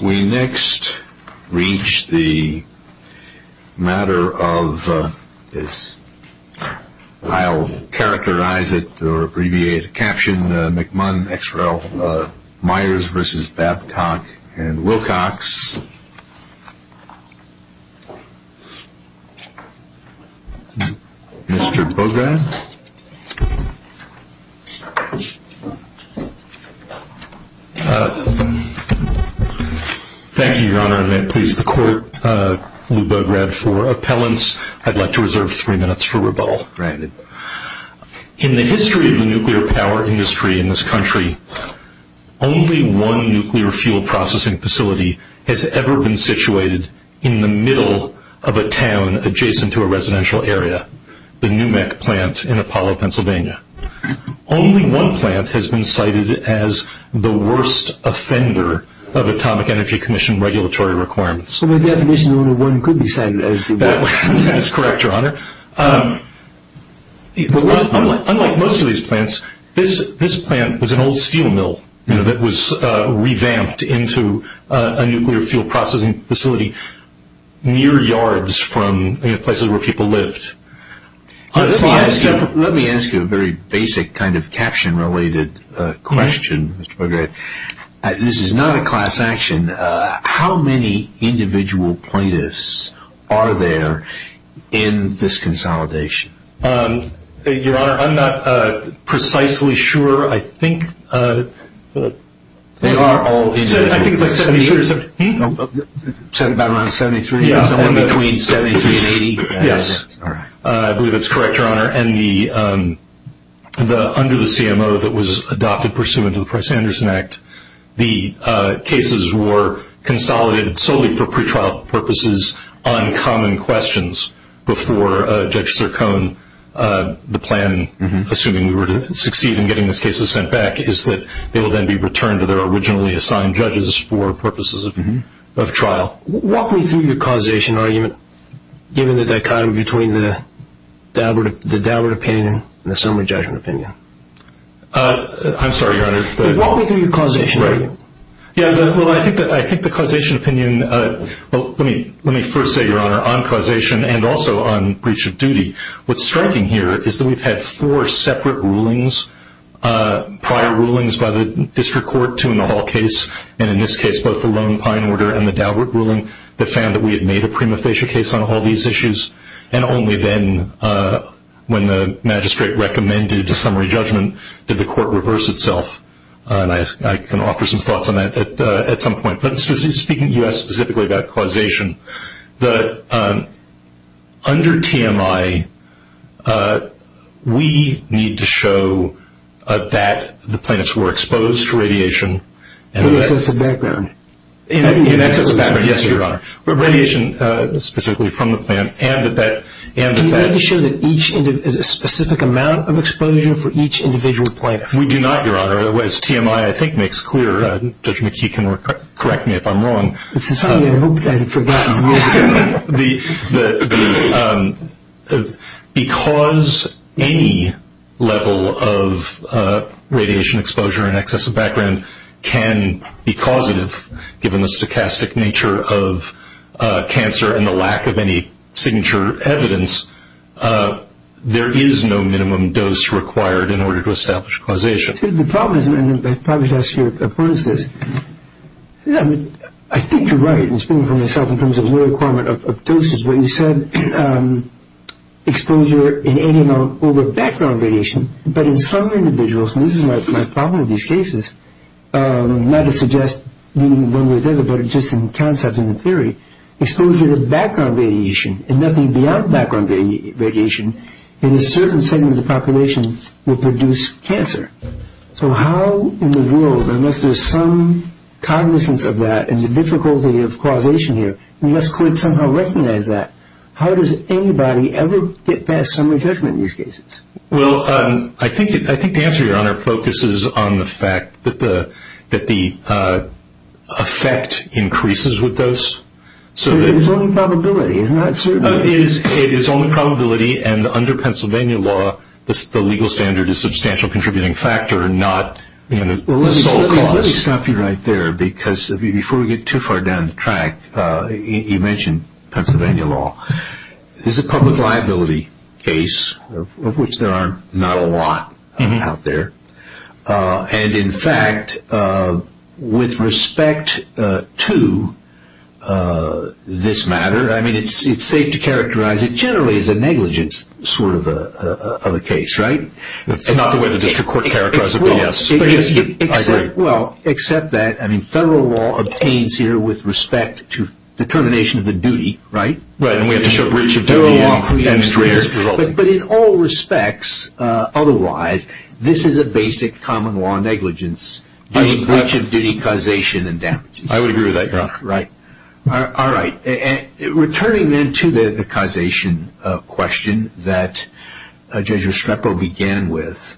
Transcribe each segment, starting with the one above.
We next reach the matter of this, I'll characterize it or abbreviate a caption, McMunn, Myers v. Babcock and Wilcox. In the history of the nuclear power industry in this country, only one nuclear fuel processing facility has ever been situated in the middle of a town adjacent to a residential area, the Newmeck plant in Apollo, Pennsylvania. Only one plant has been cited as the worst offender of Atomic Energy Commission regulatory requirements. By definition, only one could be cited as the worst offender. That is correct, Your Honor. Unlike most of these plants, this plant was an old steel mill that was revamped into a nuclear fuel processing facility near yards from places where people lived. Let me ask you a very basic kind of caption related question. This is not a class action. How many individual plaintiffs are there in this consolidation? Your Honor, I'm not precisely sure. I think it's between 73 and 80. I believe that's correct, Your Honor. Under the CMO that was adopted pursuant to the Price-Anderson Act, the cases were consolidated solely for pretrial purposes on common questions before Judge Sircone, the plan, assuming we were to succeed in getting these cases sent back, is that they will then be returned to their originally assigned judges for purposes of trial. Walk me through your causation argument, given the dichotomy between the deliberate opinion and the summary judgment opinion. I'm sorry, Your Honor. Walk me through your causation argument. I think the causation opinion, well, let me first say, Your Honor, on causation and also on breach of duty, what's striking here is that we've had four separate rulings, prior rulings by the District Court, two in the Hall case, and in this case, both the Lone Pine Order and the Daubert ruling, that found that we had made a prima facie case on all these issues, and only then, when the magistrate recommended a summary judgment, did the court reverse itself. I can offer some thoughts on that at some point. Speaking to you specifically about causation, under TMI, we need to show that the plaintiffs were exposed to radiation. In excess of background. In excess of background, yes, Your Honor. Radiation, specifically from the plant, and that that- Can you make sure that each is a specific amount of exposure for each individual plaintiff? We do not, Your Honor. As TMI, I think, makes clear, Judge McKee can correct me if I'm wrong- This is something I hoped I had forgotten. Because any level of radiation exposure in excess of background can be causative, given the stochastic nature of cancer and the lack of any signature evidence, there is no minimum dose required in order to establish causation. The problem is, and I probably should ask your opponents this, I think you're right, and speaking for myself in terms of the requirement of doses, when you said exposure in any amount over background radiation, but in some individuals, and this is my problem with these cases, not to suggest one way or the other, but just in concept and in theory, exposure to background radiation, and nothing beyond background radiation, in a certain segment of the population, will produce cancer. So how in the world, unless there's some cognizance of that, and the difficulty of causation here, unless courts somehow recognize that, how does anybody ever get past summary judgment in these cases? Well, I think the answer, Your Honor, focuses on the fact that the effect increases with dose. But it's only probability. It is only probability, and under Pennsylvania law, the legal standard is substantial contributing factor and not the sole cause. Let me stop you right there, because before we get too far down the track, you mentioned Pennsylvania law. This is a public liability case, of which there are not a lot out there. And, in fact, with respect to this matter, I mean, it's safe to characterize it generally as a negligence sort of a case. Right? It's not the way the district court characterized it, but yes. Well, except that, I mean, federal law obtains here with respect to determination of the duty, right? Right, and we have to show breach of duty. But in all respects, otherwise, this is a basic common law negligence, doing breach of duty, causation, and damages. I would agree with that, Your Honor. Right. All right. Returning then to the causation question that Judge Restrepo began with,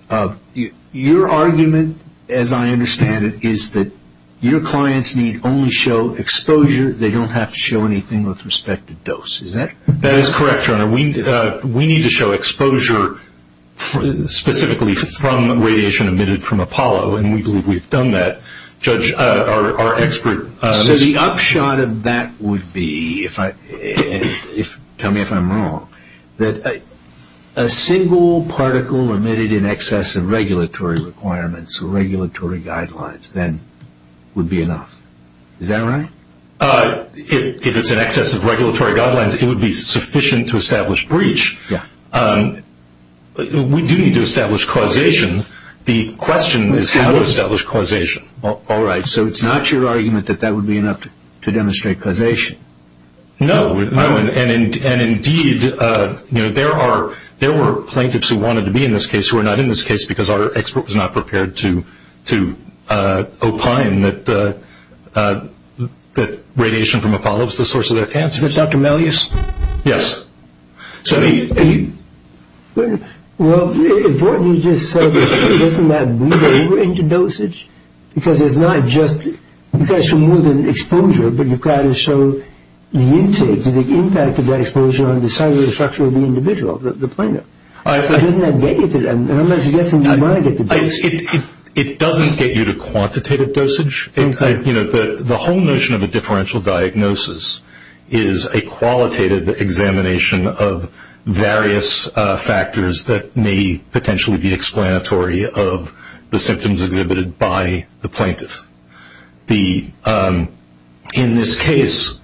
your argument, as I understand it, is that your clients need only show exposure. They don't have to show anything with respect to dose. Is that correct? That is correct, Your Honor. We need to show exposure specifically from radiation emitted from Apollo, and we believe we've done that. So the upshot of that would be, tell me if I'm wrong, that a single particle emitted in excess of regulatory requirements or regulatory guidelines then would be enough. Is that right? If it's in excess of regulatory guidelines, it would be sufficient to establish breach. We do need to establish causation. The question is how to establish causation. All right. So it's not your argument that that would be enough to demonstrate causation. No. And, indeed, there were plaintiffs who wanted to be in this case who are not in this case because our expert was not prepared to opine that radiation from Apollo was the source of their cancer. Is that Dr. Mellius? Yes. Well, if what you just said, doesn't that bleed over into dosage? Because it's not just, you've got to show more than exposure, but you've got to show the intake, the impact of that exposure on the cellular structure of the individual, the plaintiff. So doesn't that get you to, and unless you get somebody to monitor the dosage. It doesn't get you to quantitative dosage. The whole notion of a differential diagnosis is a qualitative examination of various factors that may potentially be explanatory of the symptoms exhibited by the plaintiff. In this case,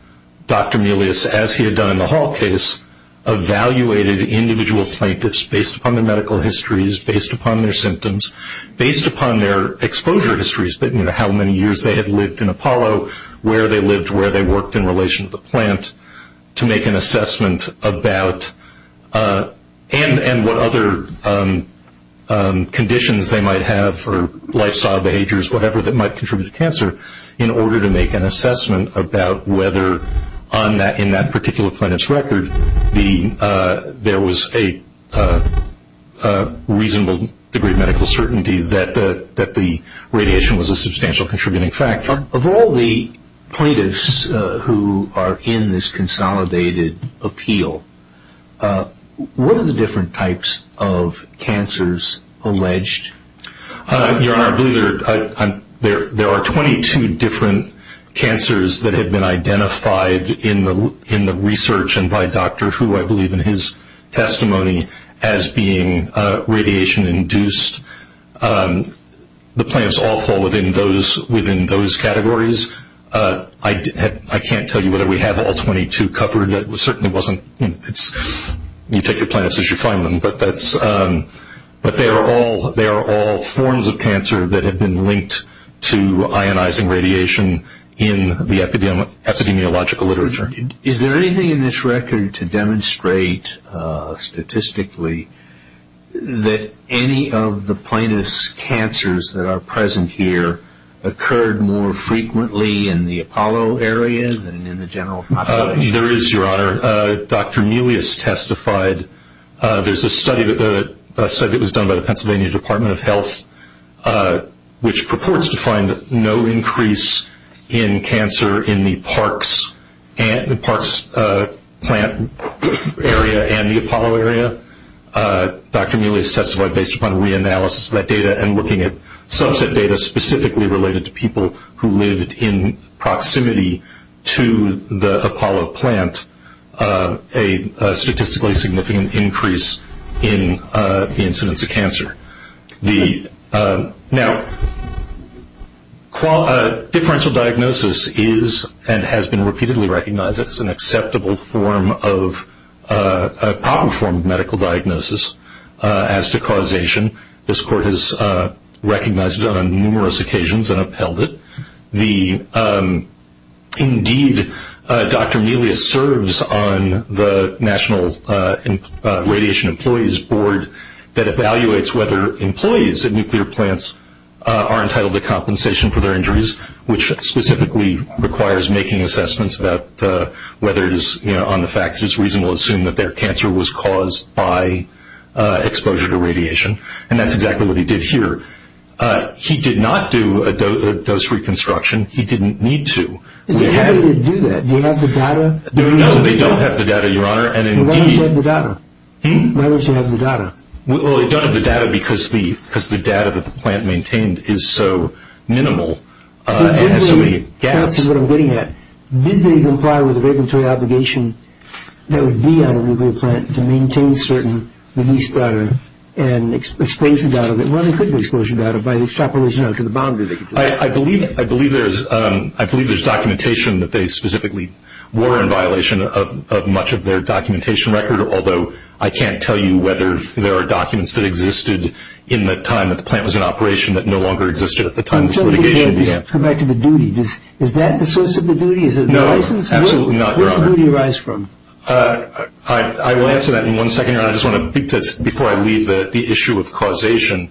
Dr. Mellius, as he had done in the Hall case, evaluated individual plaintiffs based upon their medical histories, based upon their symptoms, based upon their exposure histories, how many years they had lived in Apollo, where they lived, where they worked in relation to the plant, to make an assessment about, and what other conditions they might have, or lifestyle behaviors, whatever, that might contribute to cancer, in order to make an assessment about whether in that particular plaintiff's record, there was a reasonable degree of medical certainty that the radiation was a substantial contributing factor. Of all the plaintiffs who are in this consolidated appeal, what are the different types of cancers alleged? Your Honor, I believe there are 22 different cancers that have been identified in the research and by Dr. Hu, I believe in his testimony, as being radiation-induced. The plaintiffs all fall within those categories. I can't tell you whether we have all 22 covered. You take your plaintiffs as you find them, but they are all forms of cancer that have been linked to ionizing radiation in the epidemiological literature. Is there anything in this record to demonstrate statistically that any of the plaintiffs' cancers that are present here occurred more frequently in the Apollo area than in the general population? There is, Your Honor. Dr. Melius testified. There's a study that was done by the Pennsylvania Department of Health, which purports to find no increase in cancer in the Parks plant area and the Apollo area. Dr. Melius testified based upon reanalysis of that data and looking at subset data specifically related to people who lived in proximity to the Apollo plant, a statistically significant increase in the incidence of cancer. Now, differential diagnosis is and has been repeatedly recognized as an acceptable form of proper form of medical diagnosis. As to causation, this Court has recognized it on numerous occasions and upheld it. Indeed, Dr. Melius serves on the National Radiation Employees Board that evaluates whether employees at nuclear plants are entitled to compensation for their injuries, which specifically requires making assessments about whether it is, you know, based upon the fact that it's reasonable to assume that their cancer was caused by exposure to radiation, and that's exactly what he did here. He did not do a dose reconstruction. He didn't need to. How did he do that? Do you have the data? No, they don't have the data, Your Honor. Why don't you have the data? Hmm? Why don't you have the data? Well, they don't have the data because the data that the plant maintained is so minimal and has so many gaps. That's what I'm getting at. Did they comply with a regulatory obligation that would be on a nuclear plant to maintain certain release data and expose the data that really could be exposed to data by extrapolation out to the boundary? I believe there's documentation that they specifically were in violation of much of their documentation record, although I can't tell you whether there are documents that existed in the time that the plant was in operation that no longer existed at the time this litigation began. Let's come back to the duty. Is that the source of the duty? No, absolutely not, Your Honor. Where does the duty arise from? I will answer that in one second, Your Honor. I just want to, before I leave, the issue of causation.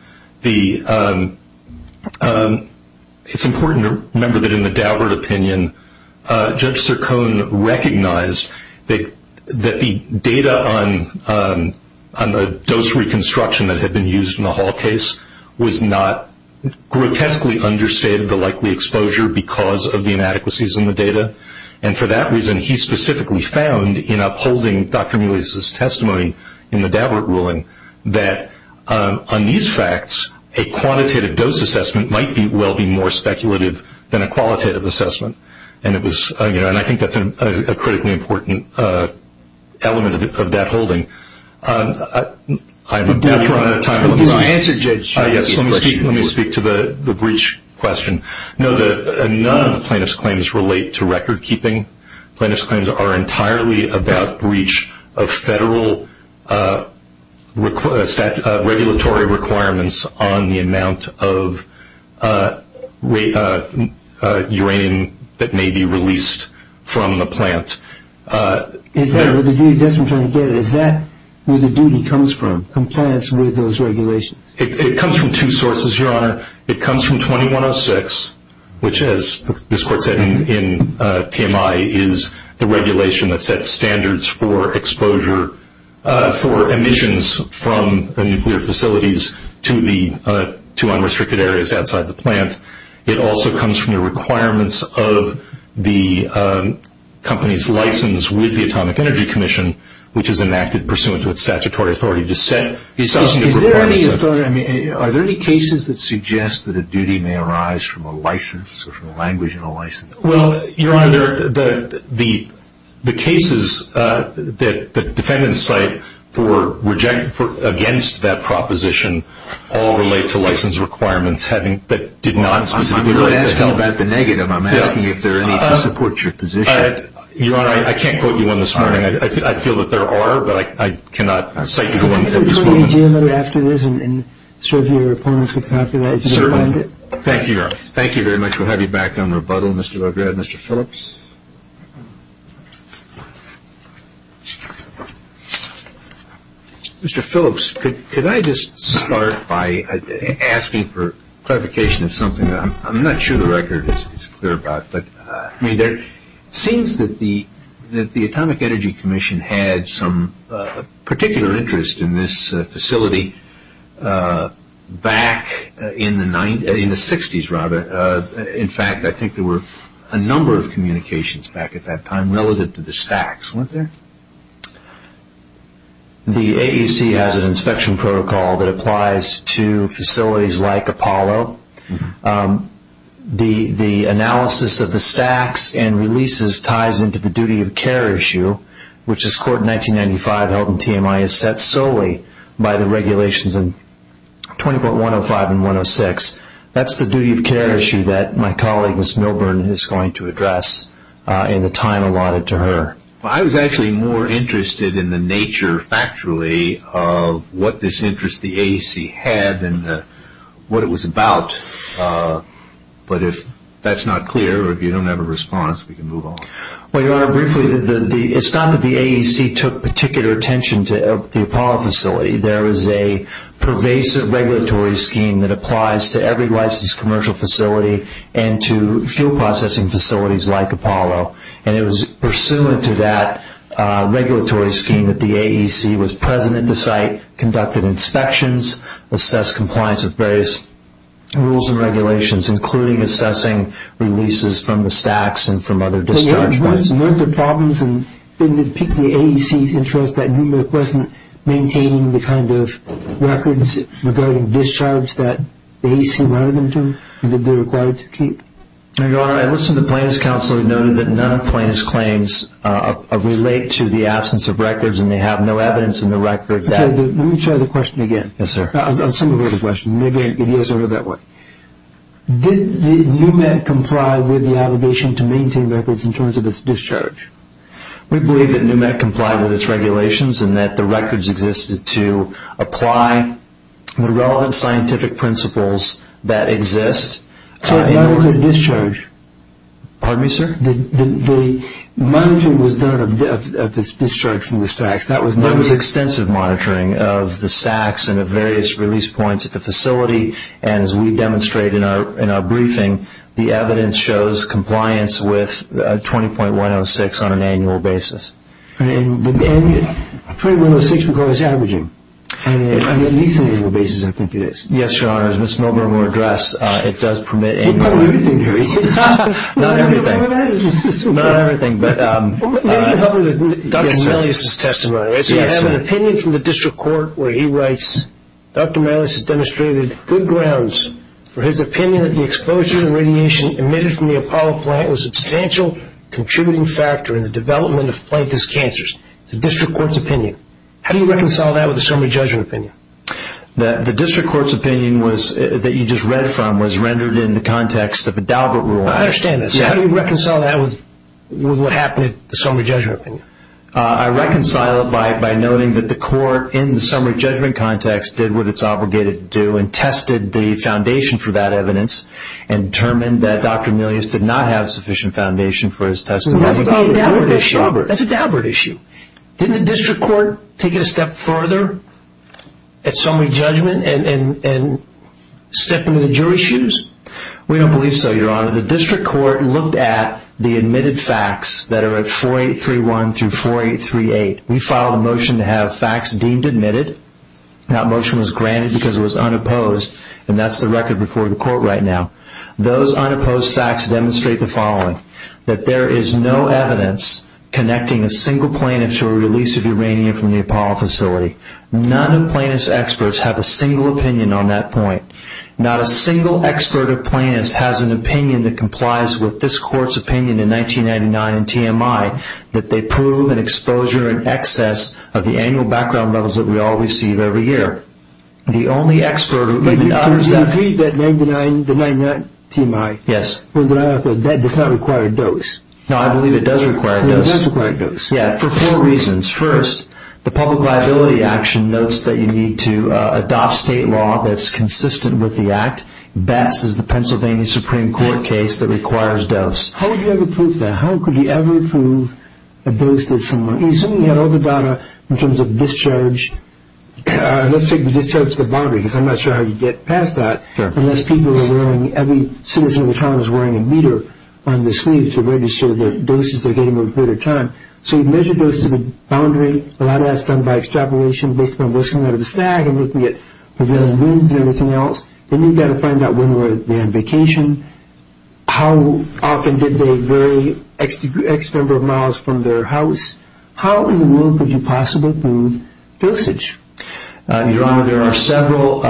It's important to remember that in the Daubert opinion, Judge Sircone recognized that the data on the dose reconstruction that had been used in the Hall case was not grotesquely understated, the likely exposure, because of the inadequacies in the data. And for that reason, he specifically found in upholding Dr. Mulius' testimony in the Daubert ruling that on these facts, a quantitative dose assessment might well be more speculative than a qualitative assessment. And I think that's a critically important element of that holding. I'm about to run out of time. Let me speak to the breach question. Know that none of the plaintiff's claims relate to record keeping. Plaintiff's claims are entirely about breach of federal regulatory requirements on the amount of uranium that may be released from the plant. Is that where the duty comes from, compliance with those regulations? It comes from two sources, Your Honor. It comes from 2106, which as this court said in TMI, is the regulation that sets standards for exposure for emissions from nuclear facilities to unrestricted areas outside the plant. It also comes from the requirements of the company's license with the Atomic Energy Commission, which is enacted pursuant to its statutory authority to set the associated requirements. Are there any cases that suggest that a duty may arise from a license or from a language in a license? Well, Your Honor, the cases that defendants cite against that proposition all relate to license requirements that did not specifically relate to that. I'm not asking about the negative. I'm asking if there are any to support your position. Your Honor, I can't quote you on this one. I feel that there are, but I cannot cite you to one for this one. Could you quote me, Jim, after this and serve your opponents with that after that? Certainly. Thank you, Your Honor. Thank you very much. We'll have you back on rebuttal, Mr. Legrad. Mr. Phillips? Mr. Phillips, could I just start by asking for clarification of something? I'm not sure the record is clear about. It seems that the Atomic Energy Commission had some particular interest in this facility back in the 1960s. In fact, I think there were a number of communications back at that time relative to the stacks. Weren't there? The AEC has an inspection protocol that applies to facilities like Apollo. The analysis of the stacks and releases ties into the duty of care issue, which as court in 1995 held in TMI is set solely by the regulations in 20.105 and 106. That's the duty of care issue that my colleague, Ms. Milburn, is going to address in the time allotted to her. I was actually more interested in the nature, factually, of what this interest the AEC had and what it was about. But if that's not clear or if you don't have a response, we can move on. Well, Your Honor, briefly, it's not that the AEC took particular attention to the Apollo facility. There is a pervasive regulatory scheme that applies to every licensed commercial facility and to fuel processing facilities like Apollo. It was pursuant to that regulatory scheme that the AEC was present at the site, conducted inspections, assessed compliance with various rules and regulations, including assessing releases from the stacks and from other discharge points. Weren't there problems in the AEC's interest that NUMET wasn't maintaining the kind of records regarding discharge that the AEC wanted them to and that they were required to keep? Your Honor, I listened to plaintiff's counsel and noted that none of plaintiff's claims relate to the absence of records and they have no evidence in the record that... Let me try the question again. Yes, sir. I'll summarize the question. Maybe it is sort of that way. Did NUMET comply with the obligation to maintain records in terms of its discharge? We believe that NUMET complied with its regulations and that the records existed to apply the relevant scientific principles that exist. So it monitored discharge? Pardon me, sir? The monitoring was done of its discharge from the stacks. There was extensive monitoring of the stacks and of various release points at the facility and as we demonstrate in our briefing, the evidence shows compliance with 20.106 on an annual basis. And 20.106 requires averaging on at least an annual basis, I think it is. Yes, Your Honor. As Ms. Milgram will address, it does permit annual... Well, probably everything, Harry. Not everything. Not everything, but... Dr. Melius' testimony, right? Yes, sir. We have an opinion from the district court where he writes, Dr. Melius has demonstrated good grounds for his opinion that the exposure to radiation emitted from the Apollo plant was a substantial contributing factor in the development of Plankton's cancers. It's the district court's opinion. How do you reconcile that with the summary judgment opinion? The district court's opinion that you just read from was rendered in the context of a Daubert rule. I understand that. So how do you reconcile that with what happened at the summary judgment opinion? I reconcile it by noting that the court, in the summary judgment context, did what it's obligated to do and tested the foundation for that evidence and determined that Dr. Melius did not have sufficient foundation for his testimony. That's a Daubert issue. Didn't the district court take it a step further at summary judgment and step into the jury's shoes? We don't believe so, Your Honor. The district court looked at the admitted facts that are at 4831 through 4838. We filed a motion to have facts deemed admitted. That motion was granted because it was unopposed, and that's the record before the court right now. Those unopposed facts demonstrate the following, that there is no evidence connecting a single plaintiff to a release of uranium from the Apollo facility. None of plaintiff's experts have a single opinion on that point. Not a single expert or plaintiff has an opinion that complies with this court's opinion in 1999 in TMI that they prove an exposure in excess of the annual background levels that we all receive every year. The only expert who... But you agree that 1999, the 1999 TMI... Yes. That does not require a dose. No, I believe it does require a dose. It does require a dose. Yeah, for four reasons. First, the public liability action notes that you need to adopt state law that's consistent with the act. BESS is the Pennsylvania Supreme Court case that requires dose. How would you ever prove that? How could you ever prove a dose that someone... Assuming you had all the data in terms of discharge... Let's say the discharge to the boundary, because I'm not sure how you get past that... Sure. Unless people are wearing... Every citizen of the town is wearing a meter on their sleeve to register the doses they're getting over a period of time. So you measure those to the boundary. A lot of that's done by extrapolation based on what's coming out of the stag and looking at prevailing winds and everything else. Then you've got to find out when they're on vacation. How often did they vary X number of miles from their house? How in the world could you possibly prove dosage? Your Honor, there are several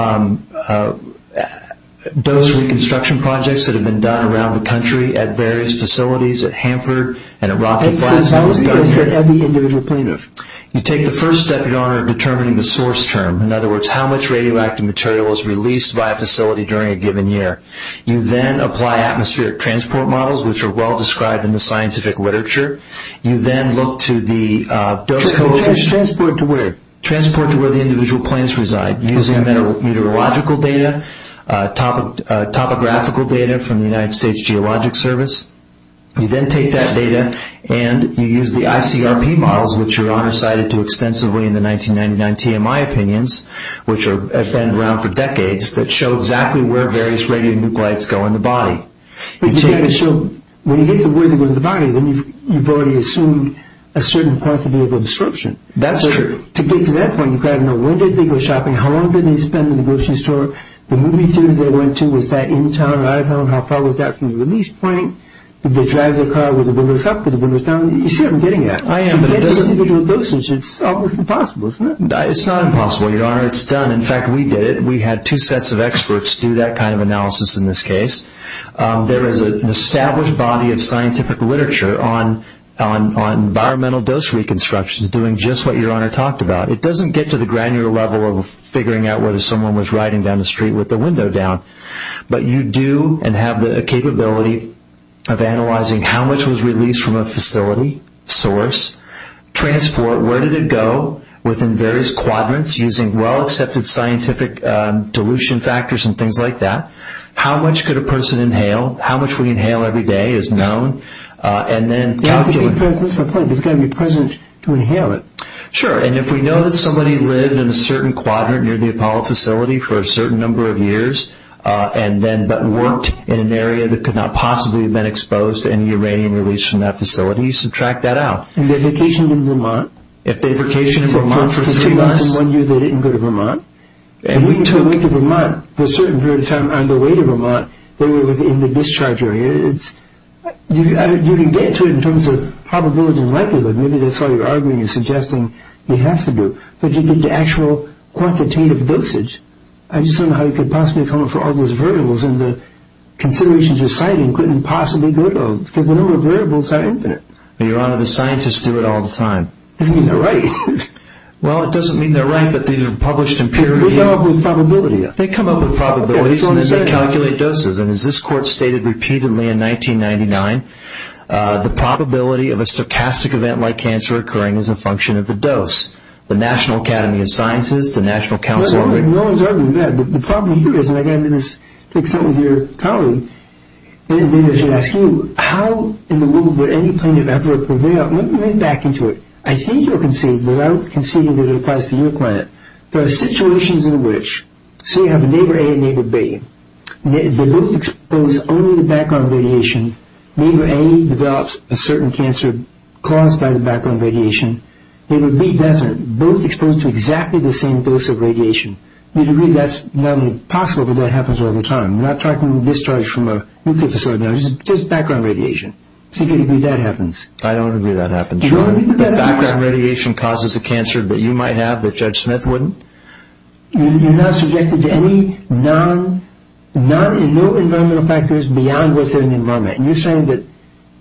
dose reconstruction projects that have been done around the country at various facilities at Hanford and... So how is dose at every individual plaintiff? You take the first step, Your Honor, of determining the source term. In other words, how much radioactive material was released by a facility during a given year. You then apply atmospheric transport models, which are well described in the scientific literature. You then look to the dose coefficient... Transport to where? Transport to where the individual plaintiffs reside using meteorological data, topographical data from the United States Geologic Service. You then take that data and you use the ICRP models, which Your Honor cited too extensively in the 1999 TMI opinions, which have been around for decades, that show exactly where various radionuclides go in the body. But you've got to show... When you get to where they go in the body, then you've already assumed a certain points of illegal disruption. That's true. To get to that point, you've got to know when did they go shopping? How long did they spend in the grocery store? The movie theaters they went to, was that in town or out of town? How far was that from the release point? Did they drive their car with the windows up or the windows down? You see what I'm getting at. I am, but it doesn't... To get to the individual dosage, it's almost impossible, isn't it? It's not impossible, Your Honor. It's done. In fact, we did it. We had two sets of experts do that kind of analysis in this case. There is an established body of scientific literature on environmental dose reconstructions doing just what Your Honor talked about. It doesn't get to the granular level of figuring out whether someone was riding down the street with the window down. But you do and have the capability of analyzing how much was released from a facility source, transport, where did it go within various quadrants using well-accepted scientific dilution factors and things like that, how much could a person inhale, how much we inhale every day is known, and then calculate... There's got to be presence to inhale it. Sure. And if we know that somebody lived in a certain quadrant near the Apollo facility for a certain number of years and then worked in an area that could not possibly have been exposed to any uranium released from that facility, you subtract that out. And they vacationed in Vermont. If they vacationed in Vermont for three months... So for three months and one year, they didn't go to Vermont. And wait until they went to Vermont, for a certain period of time, on their way to Vermont, they were in the discharge area. You can get to it in terms of probability and likelihood. Maybe that's why you're arguing and suggesting you have to do it. But you get the actual quantitative dosage. I just don't know how you could possibly come up with all those variables and the considerations you're citing couldn't possibly go to them because the number of variables are infinite. Your Honor, the scientists do it all the time. It doesn't mean they're right. Well, it doesn't mean they're right, but these are published in peer review. They come up with probability. They come up with probabilities and then they calculate doses. And as this Court stated repeatedly in 1999, the probability of a stochastic event like cancer occurring is a function of the dose. The National Academy of Sciences, the National Council on Radiation… Well, no one's arguing that. The problem here is, and again, this takes up with your power, maybe I should ask you, how in the world would any planet ever prevail? Let me run back into it. I think you'll concede, but I don't concede that it applies to your planet. There are situations in which, say you have a neighbor A and neighbor B. They're both exposed only to background radiation. Neighbor A develops a certain cancer caused by the background radiation. Neighbor B doesn't. They're both exposed to exactly the same dose of radiation. You'd agree that's not only possible, but that happens all the time. We're not talking discharge from a nuclear facility. It's just background radiation. So you could agree that happens. I don't agree that happens. You don't agree that that happens? The background radiation causes a cancer that you might have that Judge Smith wouldn't? You're not suggesting to any non… no environmental factors beyond what's in the environment. You're saying that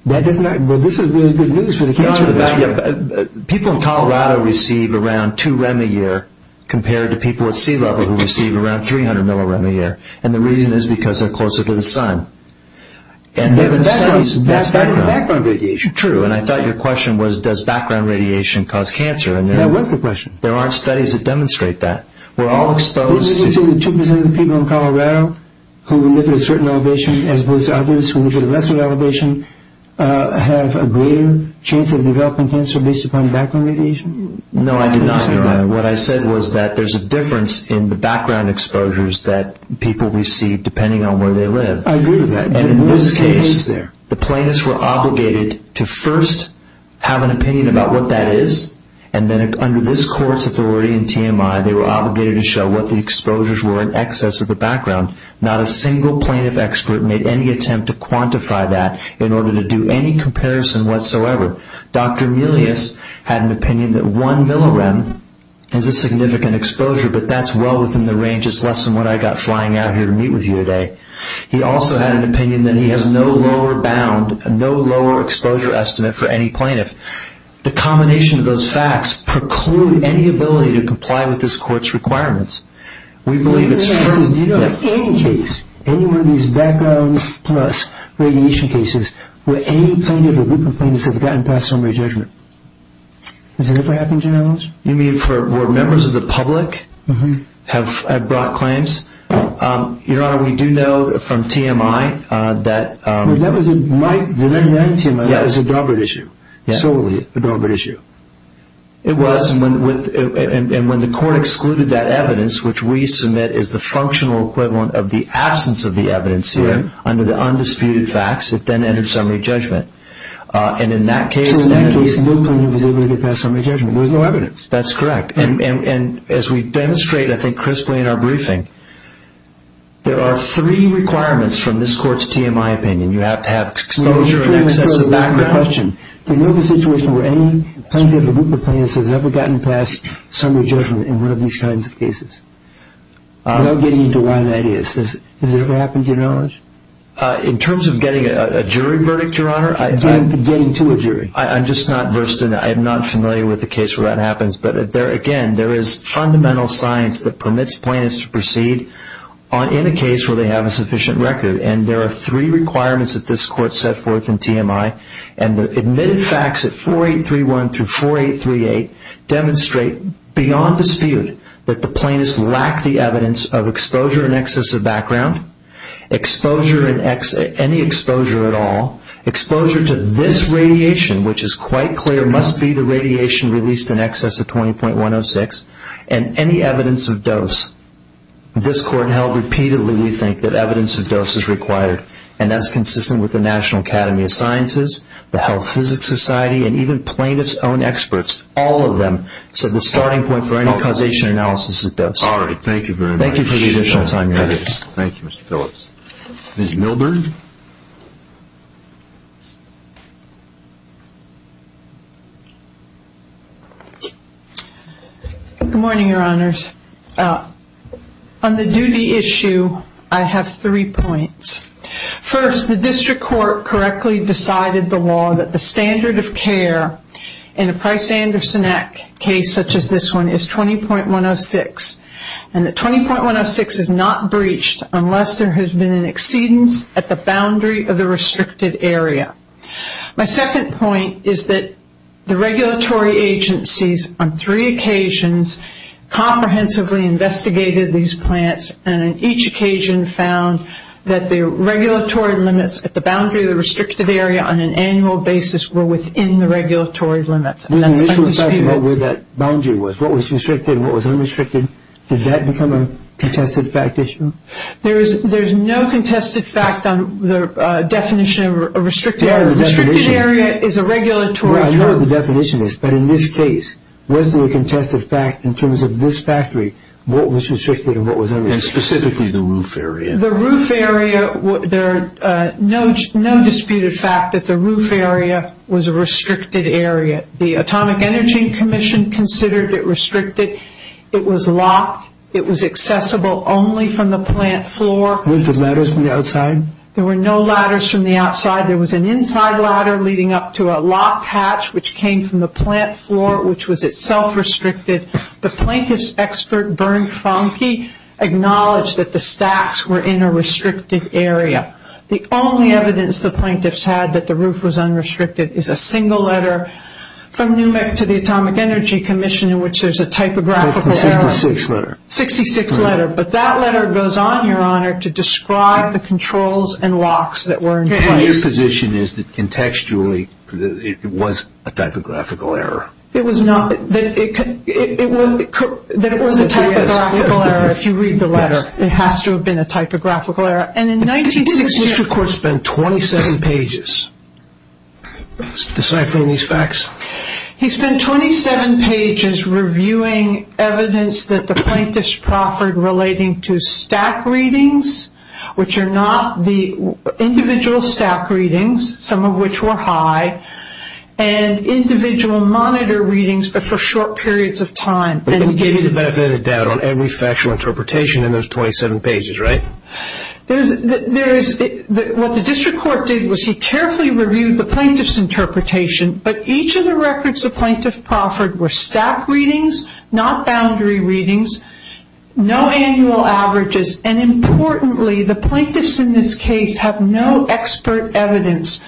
that does not… Well, this is really good news for the cancer… People in Colorado receive around 2 rem a year compared to people at sea level who receive around 300 millirem a year. And the reason is because they're closer to the sun. That's background radiation. True, and I thought your question was, does background radiation cause cancer? That was the question. There aren't studies that demonstrate that. We're all exposed to… 2 percent of the people in Colorado who live at a certain elevation as opposed to others who live at a lesser elevation have a greater chance of developing cancer based upon background radiation? No, I did not, Your Honor. What I said was that there's a difference in the background exposures that people receive depending on where they live. I agree with that. And in this case, the plaintiffs were obligated to first have an opinion about what that is, and then under this court's authority in TMI, they were obligated to show what the exposures were in excess of the background. Not a single plaintiff expert made any attempt to quantify that. In order to do any comparison whatsoever. Dr. Milius had an opinion that one millirem is a significant exposure, but that's well within the range. It's less than what I got flying out here to meet with you today. He also had an opinion that he has no lower bound, no lower exposure estimate for any plaintiff. The combination of those facts preclude any ability to comply with this court's requirements. We believe it's… So do you know of any case, any one of these background plus radiation cases, where any plaintiff or group of plaintiffs have gotten past summary judgment? Has it ever happened, Your Honor? You mean for where members of the public have brought claims? Your Honor, we do know from TMI that… Well, that was in my… In my TMI, that was a deliberate issue. Solely a deliberate issue. It was, and when the court excluded that evidence, which we submit is the functional equivalent of the absence of the evidence here, under the undisputed facts, it then entered summary judgment. And in that case… So in that case, no plaintiff was able to get past summary judgment. There was no evidence. That's correct. And as we demonstrate, I think crisply in our briefing, there are three requirements from this court's TMI opinion. You have to have exposure in excess of background. Do you know of a situation where any plaintiff or group of plaintiffs has ever gotten past summary judgment in one of these kinds of cases? I'm not getting into why that is. Has it ever happened, Your Honor? In terms of getting a jury verdict, Your Honor, I… Getting to a jury. I'm just not versed in it. I'm not familiar with the case where that happens. But, again, there is fundamental science that permits plaintiffs to proceed in a case where they have a sufficient record. And there are three requirements that this court set forth in TMI. And the admitted facts at 4831 through 4838 demonstrate beyond dispute that the plaintiffs lack the evidence of exposure in excess of background, any exposure at all, exposure to this radiation, which is quite clear, must be the radiation released in excess of 20.106, and any evidence of dose. This court held repeatedly, we think, that evidence of dose is required. And that's consistent with the National Academy of Sciences, the Health Physics Society, and even plaintiffs' own experts, all of them. So the starting point for any causation analysis is dose. All right. Thank you very much. Thank you for the additional time, Your Honor. Thank you, Mr. Phillips. Ms. Milberg? Good morning, Your Honors. On the duty issue, I have three points. First, the district court correctly decided the law that the standard of care in a Price-Anderson Act case such as this one is 20.106. And that 20.106 is not breached unless there has been an exceedance at the boundary of the restricted area. My second point is that the regulatory agencies on three occasions comprehensively investigated these plants, and on each occasion found that the regulatory limits at the boundary of the restricted area on an annual basis were within the regulatory limits. And that's what you see here. What was the boundary? What was restricted? What was unrestricted? Did that become a contested fact issue? There's no contested fact on the definition of a restricted area. A restricted area is a regulatory term. I know what the definition is, but in this case, was there a contested fact in terms of this factory, what was restricted and what was unrestricted? And specifically the roof area. The roof area, there's no disputed fact that the roof area was a restricted area. The Atomic Energy Commission considered it restricted. It was locked. It was accessible only from the plant floor. Were there ladders from the outside? There were no ladders from the outside. There was an inside ladder leading up to a locked hatch, which came from the plant floor, which was itself restricted. The plaintiff's expert, Bernd Fonke, acknowledged that the stacks were in a restricted area. The only evidence the plaintiffs had that the roof was unrestricted is a single letter from Newmark to the Atomic Energy Commission in which there's a typographical error. 66 letter. 66 letter. But that letter goes on, Your Honor, to describe the controls and locks that were in place. My position is that, contextually, it was a typographical error. It was not. That it was a typographical error if you read the letter. It has to have been a typographical error. And in 1968. The District Court spent 27 pages deciphering these facts. He spent 27 pages reviewing evidence that the plaintiffs proffered relating to stack readings, which are not the individual stack readings, some of which were high, and individual monitor readings, but for short periods of time. And he gave you the benefit of the doubt on every factual interpretation in those 27 pages, right? There is. What the District Court did was he carefully reviewed the plaintiff's interpretation, but each of the records the plaintiff proffered were stack readings, not boundary readings, no annual averages, and, importantly, the plaintiffs in this case have no expert evidence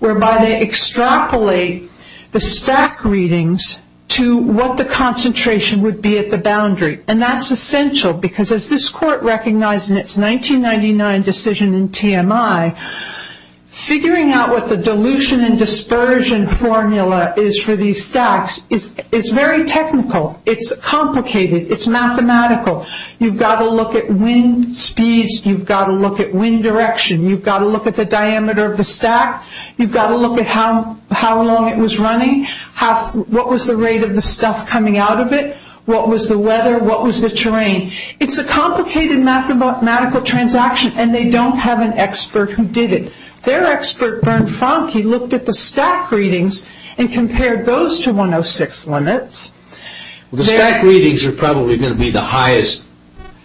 whereby they extrapolate the stack readings to what the concentration would be at the boundary. And that's essential because, as this Court recognized in its 1999 decision in TMI, figuring out what the dilution and dispersion formula is for these stacks is very technical. It's complicated. It's mathematical. You've got to look at wind speeds. You've got to look at wind direction. You've got to look at the diameter of the stack. You've got to look at how long it was running. What was the rate of the stuff coming out of it? What was the weather? What was the terrain? It's a complicated mathematical transaction, and they don't have an expert who did it. Their expert, Berne Fonke, looked at the stack readings and compared those to 106 limits. The stack readings are probably going to be the highest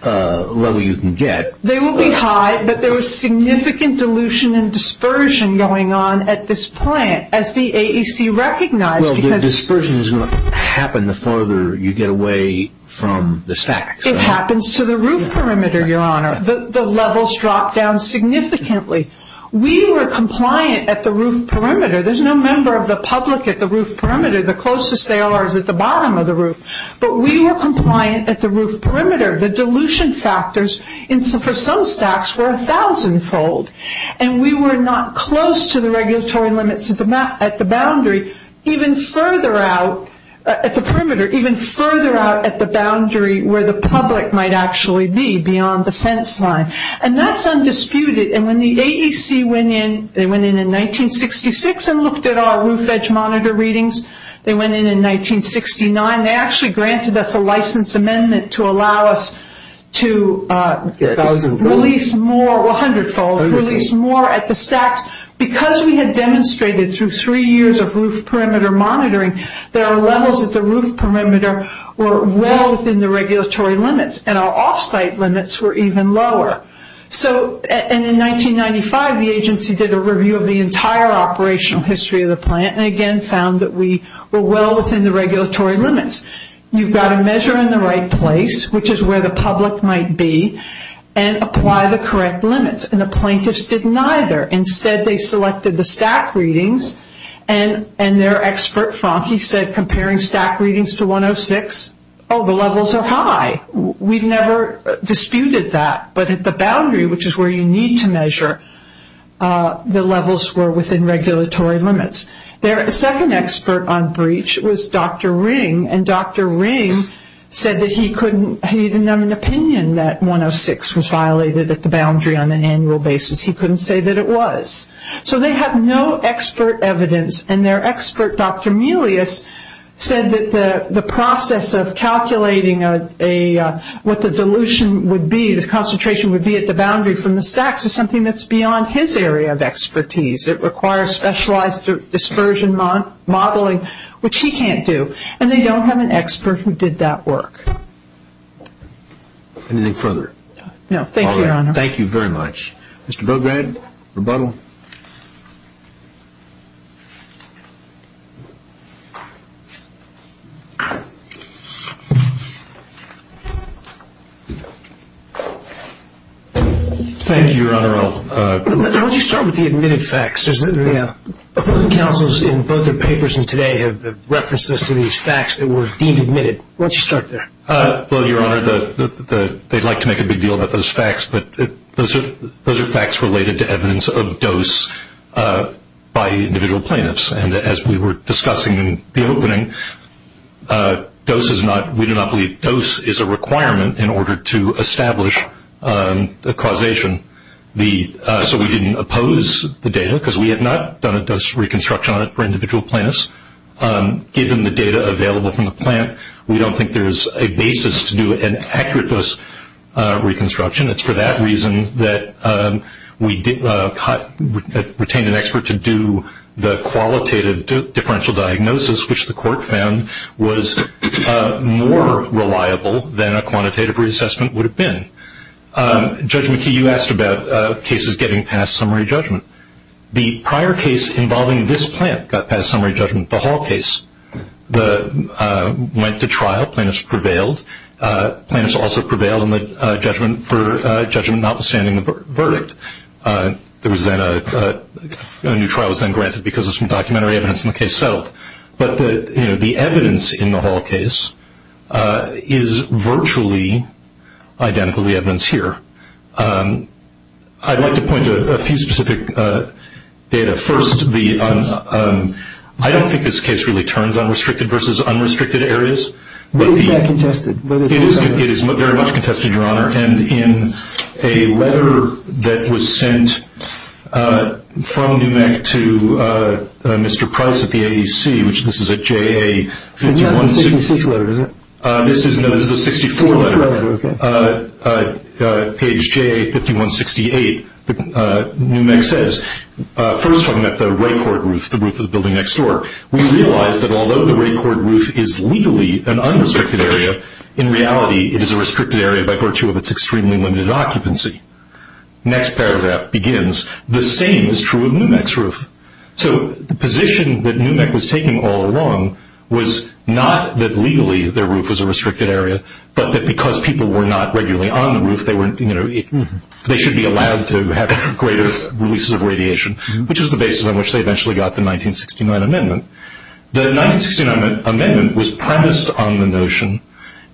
level you can get. They will be high, but there was significant dilution and dispersion going on at this point, as the AEC recognized. Well, the dispersion is going to happen the farther you get away from the stack. It happens to the roof perimeter, Your Honor. The levels drop down significantly. We were compliant at the roof perimeter. There's no member of the public at the roof perimeter. The closest they are is at the bottom of the roof, but we were compliant at the roof perimeter. The dilution factors for some stacks were 1,000-fold, and we were not close to the regulatory limits at the boundary even further out at the perimeter, even further out at the boundary where the public might actually be beyond the fence line, and that's undisputed. When the AEC went in, they went in in 1966 and looked at our roof edge monitor readings. They went in in 1969. They actually granted us a license amendment to allow us to release more 100-fold, release more at the stacks. Because we had demonstrated through three years of roof perimeter monitoring, there are levels at the roof perimeter were well within the regulatory limits, and our off-site limits were even lower. In 1995, the agency did a review of the entire operational history of the plant and again found that we were well within the regulatory limits. You've got to measure in the right place, which is where the public might be, and apply the correct limits, and the plaintiffs didn't either. Instead, they selected the stack readings, and their expert, Frankie, said comparing stack readings to 106, oh, the levels are high. We've never disputed that, but at the boundary, which is where you need to measure, the levels were within regulatory limits. Their second expert on breach was Dr. Ring, and Dr. Ring said that he couldn't, he didn't have an opinion that 106 was violated at the boundary on an annual basis. He couldn't say that it was. So they have no expert evidence, and their expert, Dr. Melius, said that the process of calculating what the dilution would be, the concentration would be at the boundary from the stacks, is something that's beyond his area of expertise. It requires specialized dispersion modeling, which he can't do, and they don't have an expert who did that work. Anything further? No. Thank you, Your Honor. Thank you very much. Mr. Bograd, rebuttal. Thank you, Your Honor. Why don't you start with the admitted facts? The councils in both their papers and today have referenced this to these facts that were deemed admitted. Why don't you start there? Well, Your Honor, they'd like to make a big deal about those facts, but those are facts related to evidence of dose by individual plaintiffs. And as we were discussing in the opening, we do not believe dose is a requirement in order to establish a causation. So we didn't oppose the data because we had not done a dose reconstruction on it for individual plaintiffs. Given the data available from the plant, we don't think there's a basis to do an accurate dose reconstruction. It's for that reason that we retained an expert to do the qualitative differential diagnosis, which the court found was more reliable than a quantitative reassessment would have been. Judge McKee, you asked about cases getting past summary judgment. The prior case involving this plant got past summary judgment, the Hall case. It went to trial. Plaintiffs prevailed. Plaintiffs also prevailed for judgment notwithstanding the verdict. A new trial was then granted because of some documentary evidence, and the case settled. But the evidence in the Hall case is virtually identical to the evidence here. I'd like to point to a few specific data. First, I don't think this case really turns on restricted versus unrestricted areas. Is that contested? It is very much contested, Your Honor. And in a letter that was sent from NMEC to Mr. Price at the AEC, which this is a JA-51-68. It's not the 66 letter, is it? No, this is the 64 letter. Page JA-51-68. NMEC says, first talking about the Raycord roof, the roof of the building next door, we realize that although the Raycord roof is legally an unrestricted area, in reality it is a restricted area by virtue of its extremely limited occupancy. Next paragraph begins, the same is true of NMEC's roof. So the position that NMEC was taking all along was not that legally the roof was a restricted area, but that because people were not regularly on the roof, they should be allowed to have greater releases of radiation, which was the basis on which they eventually got the 1969 amendment. The 1969 amendment was premised on the notion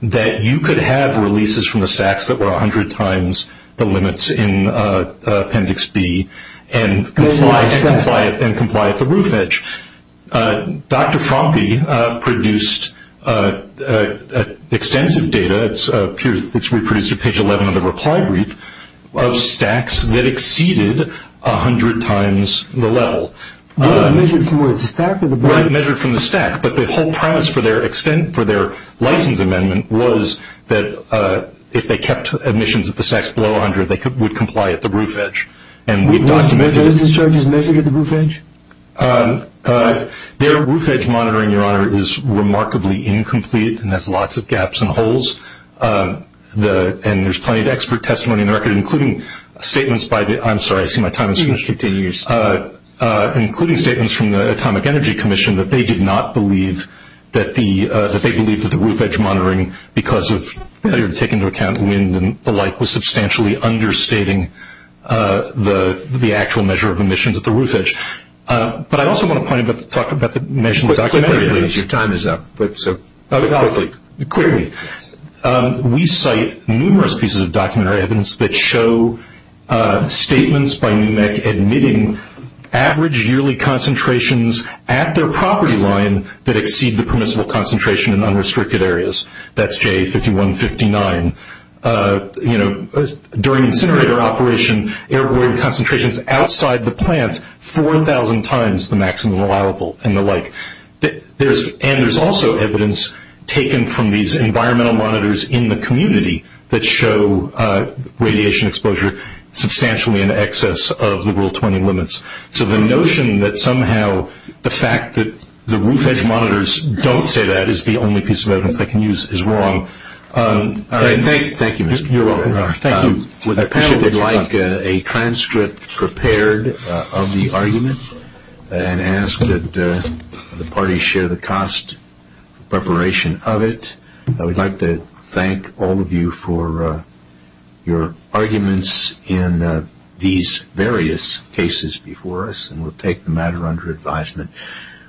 that you could have releases from the stacks that were 100 times the limits in Appendix B and comply at the roof edge. Dr. Frompe produced extensive data, which we produced at page 11 of the reply brief, of stacks that exceeded 100 times the level. Measured from the stack? Measured from the stack. But the whole premise for their license amendment was that if they kept emissions at the stacks below 100, they would comply at the roof edge. Were those discharges measured at the roof edge? Their roof edge monitoring, Your Honor, is remarkably incomplete and has lots of gaps and holes, and there's plenty of expert testimony in the record, including statements by the – I'm sorry, I see my time is finished. You can continue. Including statements from the Atomic Energy Commission that they did not believe that the – that they believed that the roof edge monitoring, because of failure to take into account wind and the like, was substantially understating the actual measure of emissions at the roof edge. But I also want to talk about the measurement. Your time is up, so quickly. Quickly. We cite numerous pieces of documentary evidence that show statements by NMEC admitting average yearly concentrations at their property line that exceed the permissible concentration in unrestricted areas. That's J5159. You know, during incinerator operation, airborne concentrations outside the plant, 4,000 times the maximum allowable and the like. And there's also evidence taken from these environmental monitors in the community that show radiation exposure substantially in excess of the Rule 20 limits. So the notion that somehow the fact that the roof edge monitors don't say that is the only piece of evidence they can use is wrong. All right. Thank you. You're welcome. Thank you. Would the panel would like a transcript prepared of the argument and ask that the parties share the cost preparation of it. I would like to thank all of you for your arguments in these various cases before us, and we'll take the matter under advisement.